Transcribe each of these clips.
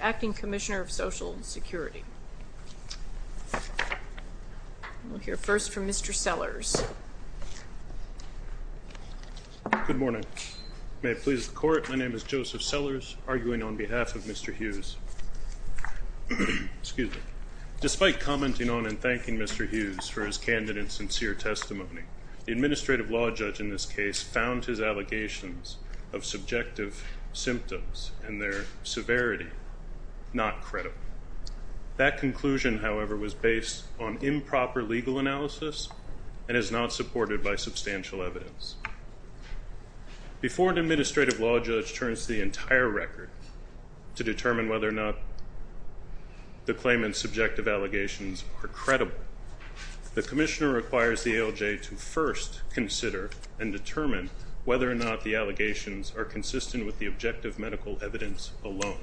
Acting Commissioner of Social Security Joseph Sellers Good morning. May it please the Court, my name is Joseph Sellers, arguing on behalf of Mr. Hughes. Despite commenting on and thanking Mr. Hughes for his candid and sincere testimony, the Administrative Law Judge in this case found his allegations of subjective symptoms and their severity not credible. That conclusion, however, was based on improper legal analysis and is not supported by substantial evidence. Before an Administrative Law Judge turns the entire record to determine whether or not the claimant's subjective allegations are credible, the Commissioner requires the ALJ to first consider and determine whether or not the allegations are consistent with the objective medical evidence alone.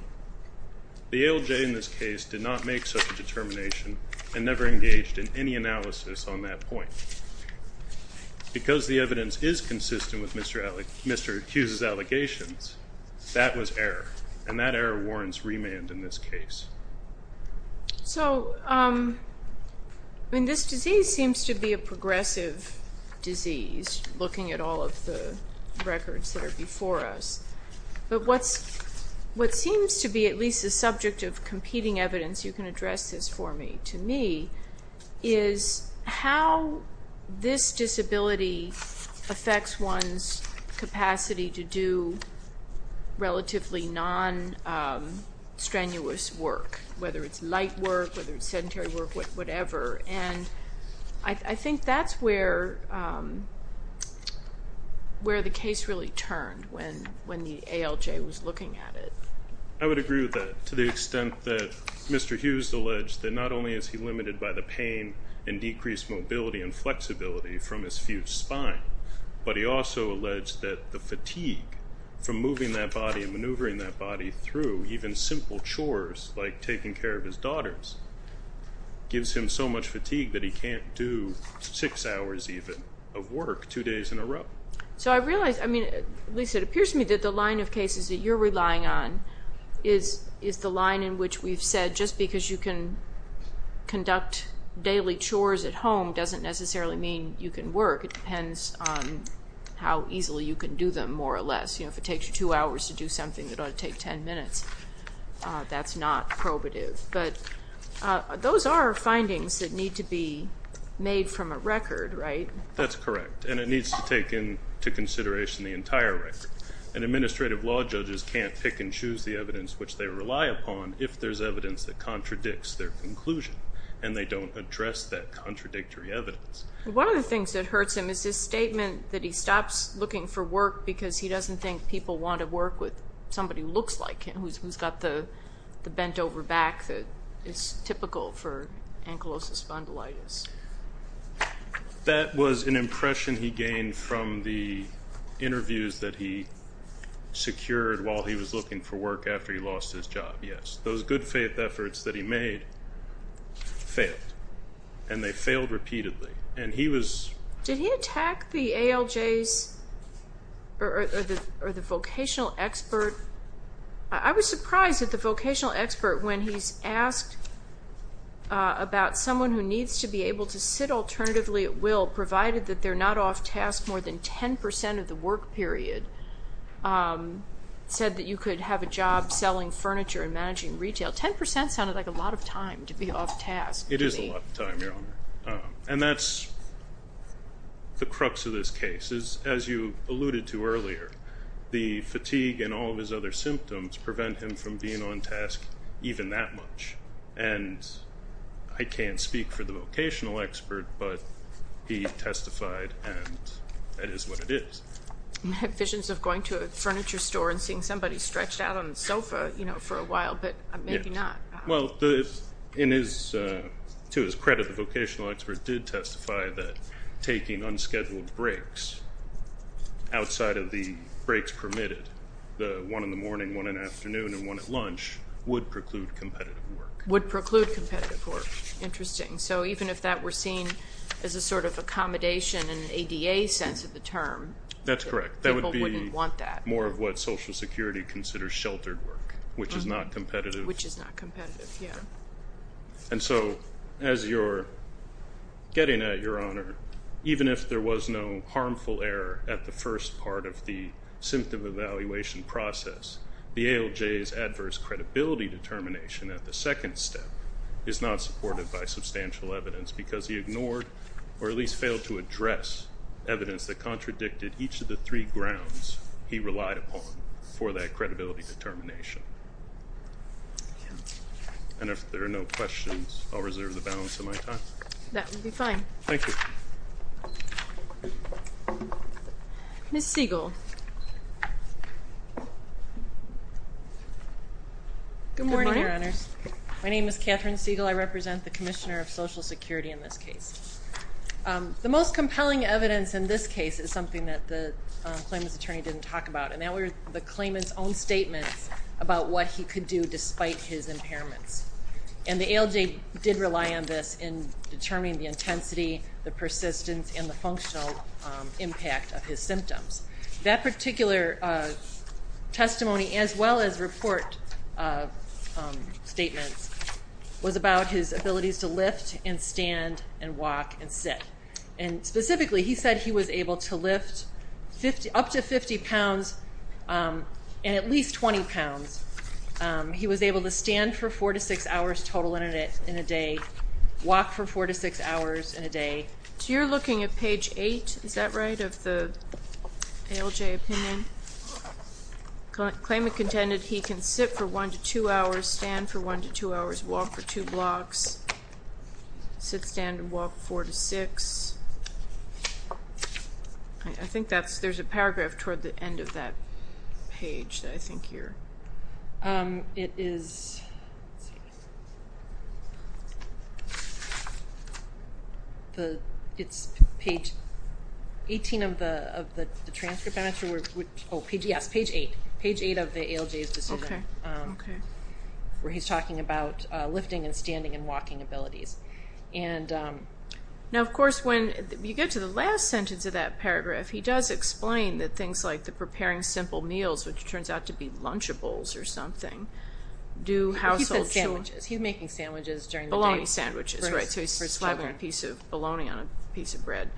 The ALJ in this case did not make such a determination and never engaged in any analysis on that point. Because the evidence is consistent with Mr. Hughes' allegations, that was error, and that error warrants remand in this case. This disease seems to be a progressive disease, looking at all of the records that are before us. But what seems to be at least a subject of competing evidence, you can address this for me, to me, is how this disability affects one's capacity to do relatively non-strenuous work, whether it's light work, whether it's sedentary work, whatever. And I think that's where the case really turned when the ALJ was looking at it. I would agree with that to the extent that Mr. Hughes alleged that not only is he limited by the pain and decreased mobility and flexibility from his fused spine, but he also alleged that the fatigue from moving that body and maneuvering that body through even simple chores like taking care of his daughters gives him so much fatigue that he can't do six hours even of work two days in a row. So I realize, at least it appears to me, that the line of cases that you're relying on is the line in which we've said just because you can conduct daily chores at home doesn't necessarily mean you can work. It depends on how easily you can do them, more or less. If it takes you two hours to do something, it ought to take 10 minutes. That's not probative. But those are findings that need to be made from a record, right? That's correct, and it needs to take into consideration the entire record. And administrative law judges can't pick and choose the evidence which they rely upon if there's evidence that contradicts their conclusion, and they don't address that contradictory evidence. One of the things that hurts him is his statement that he stops looking for work because he doesn't think people want to work with somebody who looks like him, who's got the bent-over back that is typical for ankylosis spondylitis. That was an impression he gained from the interviews that he secured while he was looking for work after he lost his job, yes. Those good-faith efforts that he made failed, and they failed repeatedly. Did he attack the ALJs or the vocational expert? I was surprised that the vocational expert, when he's asked about someone who needs to be able to sit alternatively at will, provided that they're not off-task more than 10% of the work period, said that you could have a job selling furniture and managing retail. Ten percent sounded like a lot of time to be off-task. It is a lot of time, Your Honor, and that's the crux of this case. As you alluded to earlier, the fatigue and all of his other symptoms prevent him from being on-task even that much. And I can't speak for the vocational expert, but he testified, and that is what it is. He had visions of going to a furniture store and seeing somebody stretched out on the sofa for a while, but maybe not. Well, to his credit, the vocational expert did testify that taking unscheduled breaks outside of the breaks permitted, the one in the morning, one in the afternoon, and one at lunch, would preclude competitive work. Would preclude competitive work. Interesting. So even if that were seen as a sort of accommodation in an ADA sense of the term, people wouldn't want that. That's correct. It's more of what Social Security considers sheltered work, which is not competitive. Which is not competitive, yeah. And so as you're getting at, Your Honor, even if there was no harmful error at the first part of the symptom evaluation process, the ALJ's adverse credibility determination at the second step is not supported by substantial evidence because he ignored or at least failed to address evidence that contradicted each of the three grounds he relied upon for that credibility determination. And if there are no questions, I'll reserve the balance of my time. That would be fine. Thank you. Ms. Siegel. Good morning, Your Honors. My name is Catherine Siegel. I represent the Commissioner of Social Security in this case. The most compelling evidence in this case is something that the claimant's attorney didn't talk about, and that were the claimant's own statements about what he could do despite his impairments. And the ALJ did rely on this in determining the intensity, the persistence, and the functional impact of his symptoms. That particular testimony, as well as report statements, was about his abilities to lift and stand and walk and sit. And specifically, he said he was able to lift up to 50 pounds and at least 20 pounds. He was able to stand for four to six hours total in a day, walk for four to six hours in a day. So you're looking at page eight, is that right, of the ALJ opinion? Claimant contended he can sit for one to two hours, stand for one to two hours, walk for two blocks, sit, stand, and walk four to six. I think there's a paragraph toward the end of that page that I think here. It's page 18 of the transcript, yes, page eight of the ALJ's decision, where he's talking about lifting and standing and walking abilities. Now, of course, when you get to the last sentence of that paragraph, he does explain that things like the preparing simple meals, which turns out to be lunchables or something, do household chores. He said sandwiches. He's making sandwiches during the day. Bologna sandwiches, right. For his children. So he's slathering a piece of bologna on a piece of bread.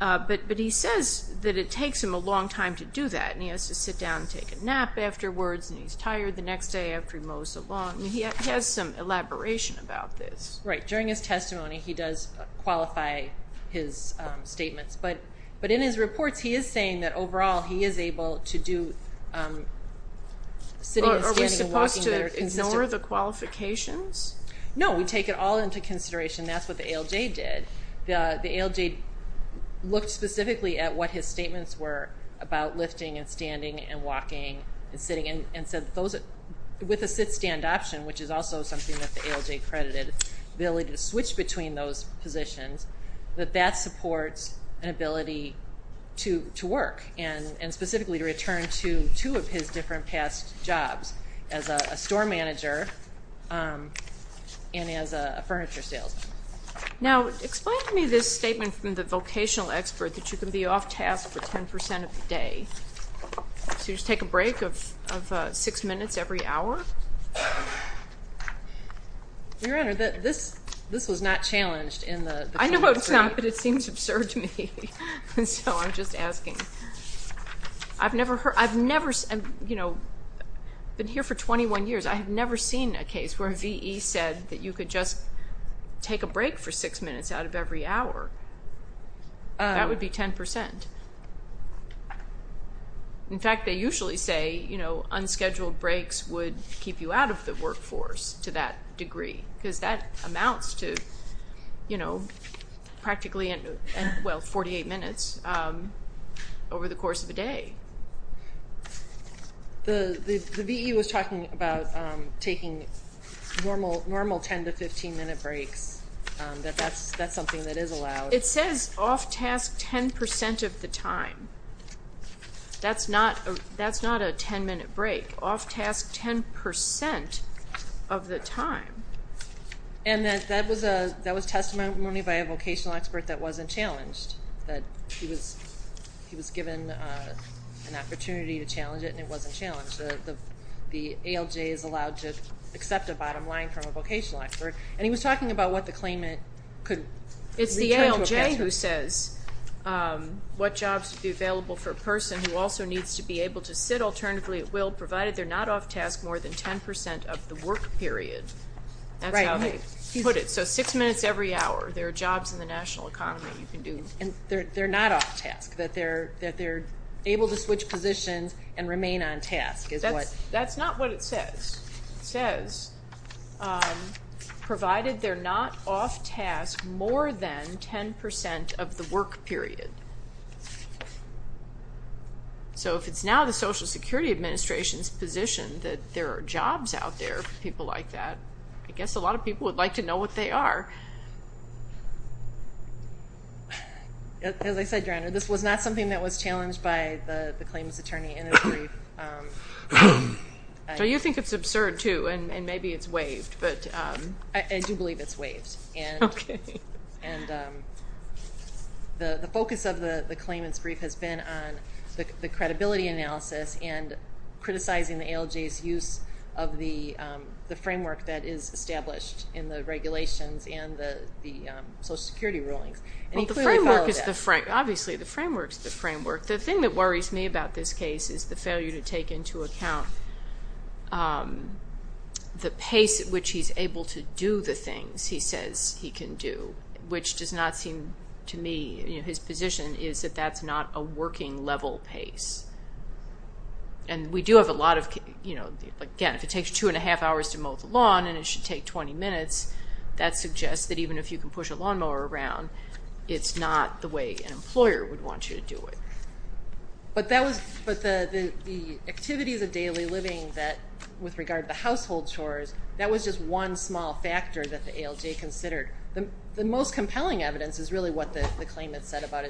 But he says that it takes him a long time to do that, and he has to sit down and take a nap afterwards, and he's tired the next day after he mows the lawn. He has some elaboration about this. Right. During his testimony, he does qualify his statements. But in his reports, he is saying that, overall, he is able to do sitting and standing and walking better. Are we supposed to ignore the qualifications? No, we take it all into consideration. That's what the ALJ did. The ALJ looked specifically at what his statements were about lifting and standing and walking and sitting, and said with a sit-stand option, which is also something that the ALJ credited, the ability to switch between those positions, that that supports an ability to work and specifically to return to two of his different past jobs as a store manager and as a furniture salesman. Now, explain to me this statement from the vocational expert that you can be off task for 10% of the day. So you just take a break of six minutes every hour? Your Honor, this was not challenged in the claim. I know it's not, but it seems absurd to me. So I'm just asking. I've never been here for 21 years. I have never seen a case where a V.E. said that you could just take a break for six minutes out of every hour. That would be 10%. In fact, they usually say, you know, unscheduled breaks would keep you out of the workforce to that degree, because that amounts to, you know, practically 48 minutes over the course of a day. The V.E. was talking about taking normal 10 to 15-minute breaks, that that's something that is allowed. It says off task 10% of the time. That's not a 10-minute break. Off task 10% of the time. And that was testimony by a vocational expert that wasn't challenged, that he was given an opportunity to challenge it, and it wasn't challenged. The ALJ is allowed to accept a bottom line from a vocational expert, and he was talking about what the claimant could return to a vocational expert. It's the ALJ who says what jobs would be available for a person who also needs to be able to sit alternatively at will, provided they're not off task more than 10% of the work period. That's how they put it. So six minutes every hour, there are jobs in the national economy you can do. And they're not off task, that they're able to switch positions and remain on task is what. That's not what it says. It says provided they're not off task more than 10% of the work period. So if it's now the Social Security Administration's position that there are jobs out there for people like that, I guess a lot of people would like to know what they are. As I said, Your Honor, this was not something that was challenged by the claims attorney in a brief. So you think it's absurd, too, and maybe it's waived. I do believe it's waived. Okay. And the focus of the claimant's brief has been on the credibility analysis and criticizing the ALJ's use of the framework that is established in the regulations and the Social Security rulings. Well, the framework is the framework. Obviously, the framework is the framework. The thing that worries me about this case is the failure to take into account the pace at which he's able to do the things he says he can do, which does not seem to me his position is that that's not a working level pace. And we do have a lot of, again, if it takes two and a half hours to mow the lawn and it should take 20 minutes, that suggests that even if you can push a lawnmower around, it's not the way an employer would want you to do it. But the activities of daily living with regard to household chores, that was just one small factor that the ALJ considered. The most compelling evidence is really what the claimant said about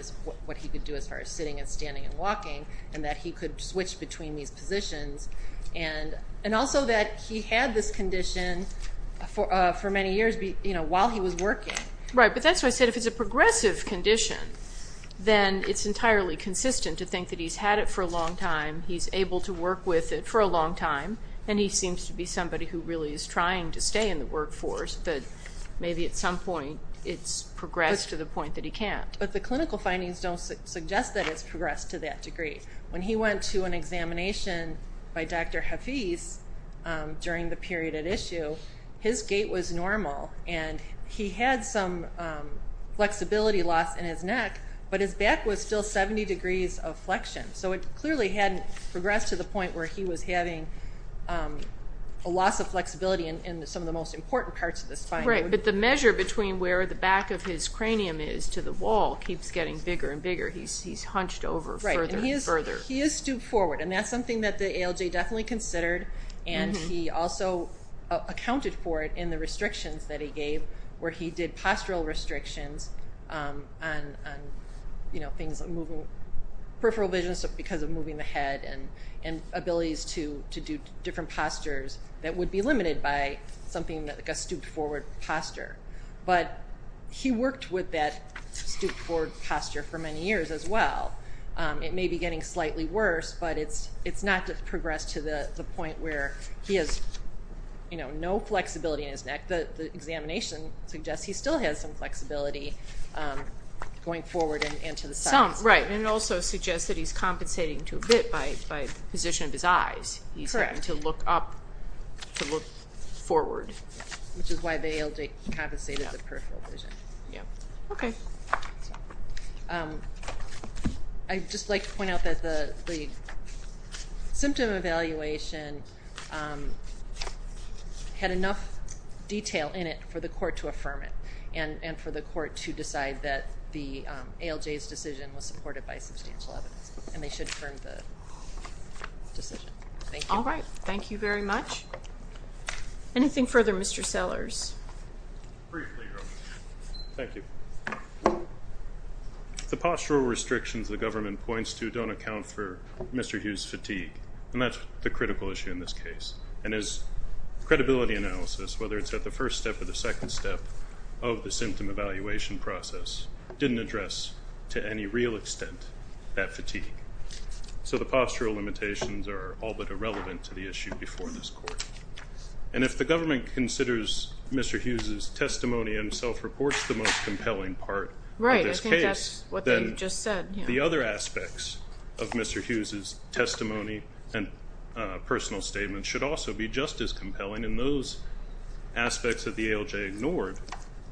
what he could do as far as sitting and standing and walking and that he could switch between these positions. And also that he had this condition for many years while he was working. Right, but that's why I said if it's a progressive condition, then it's entirely consistent to think that he's had it for a long time, he's able to work with it for a long time, and he seems to be somebody who really is trying to stay in the workforce, but maybe at some point it's progressed to the point that he can't. But the clinical findings don't suggest that it's progressed to that degree. When he went to an examination by Dr. Hafiz during the period at issue, his gait was normal, and he had some flexibility loss in his neck, but his back was still 70 degrees of flexion. So it clearly hadn't progressed to the point where he was having a loss of flexibility in some of the most important parts of the spine. Right, but the measure between where the back of his cranium is to the wall keeps getting bigger and bigger. He's hunched over further and further. Right, and he is stooped forward, and that's something that the ALJ definitely considered. And he also accounted for it in the restrictions that he gave, where he did postural restrictions on peripheral vision, because of moving the head and abilities to do different postures that would be limited by something like a stooped forward posture. But he worked with that stooped forward posture for many years as well. It may be getting slightly worse, but it's not progressed to the point where he has no flexibility in his neck. The examination suggests he still has some flexibility going forward and to the sides. Right, and it also suggests that he's compensating to a bit by position of his eyes. He's having to look up to look forward. Which is why the ALJ compensated with peripheral vision. Okay. I'd just like to point out that the symptom evaluation had enough detail in it for the court to affirm it and for the court to decide that the ALJ's decision was supported by substantial evidence, and they should affirm the decision. Thank you. All right, thank you very much. Anything further, Mr. Sellers? Briefly, Your Honor. Thank you. The postural restrictions the government points to don't account for Mr. Hughes' fatigue, and that's the critical issue in this case. And his credibility analysis, whether it's at the first step or the second step, of the symptom evaluation process didn't address to any real extent that fatigue. So the postural limitations are all but irrelevant to the issue before this court. And if the government considers Mr. Hughes' testimony and self-reports the most compelling part of this case, then the other aspects of Mr. Hughes' testimony and personal statement should also be just as compelling. And those aspects that the ALJ ignored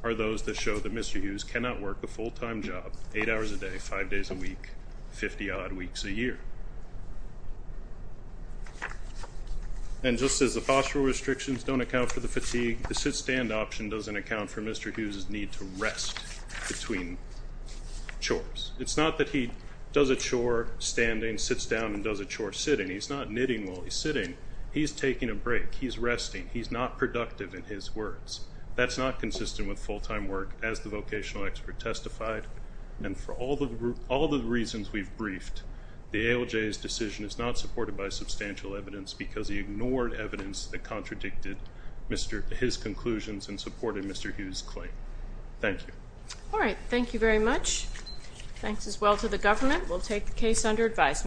are those that show that Mr. Hughes cannot work a full-time job eight hours a day, five days a week, 50-odd weeks a year. And just as the postural restrictions don't account for the fatigue, the sit-stand option doesn't account for Mr. Hughes' need to rest between chores. It's not that he does a chore standing, sits down, and does a chore sitting. He's not knitting while he's sitting. He's taking a break. He's resting. He's not productive in his words. That's not consistent with full-time work, as the vocational expert testified. And for all the reasons we've briefed, the ALJ's decision is not supported by substantial evidence because he ignored evidence that contradicted his conclusions and supported Mr. Hughes' claim. Thank you. All right. Thank you very much. Thanks as well to the government. We'll take the case under advisement.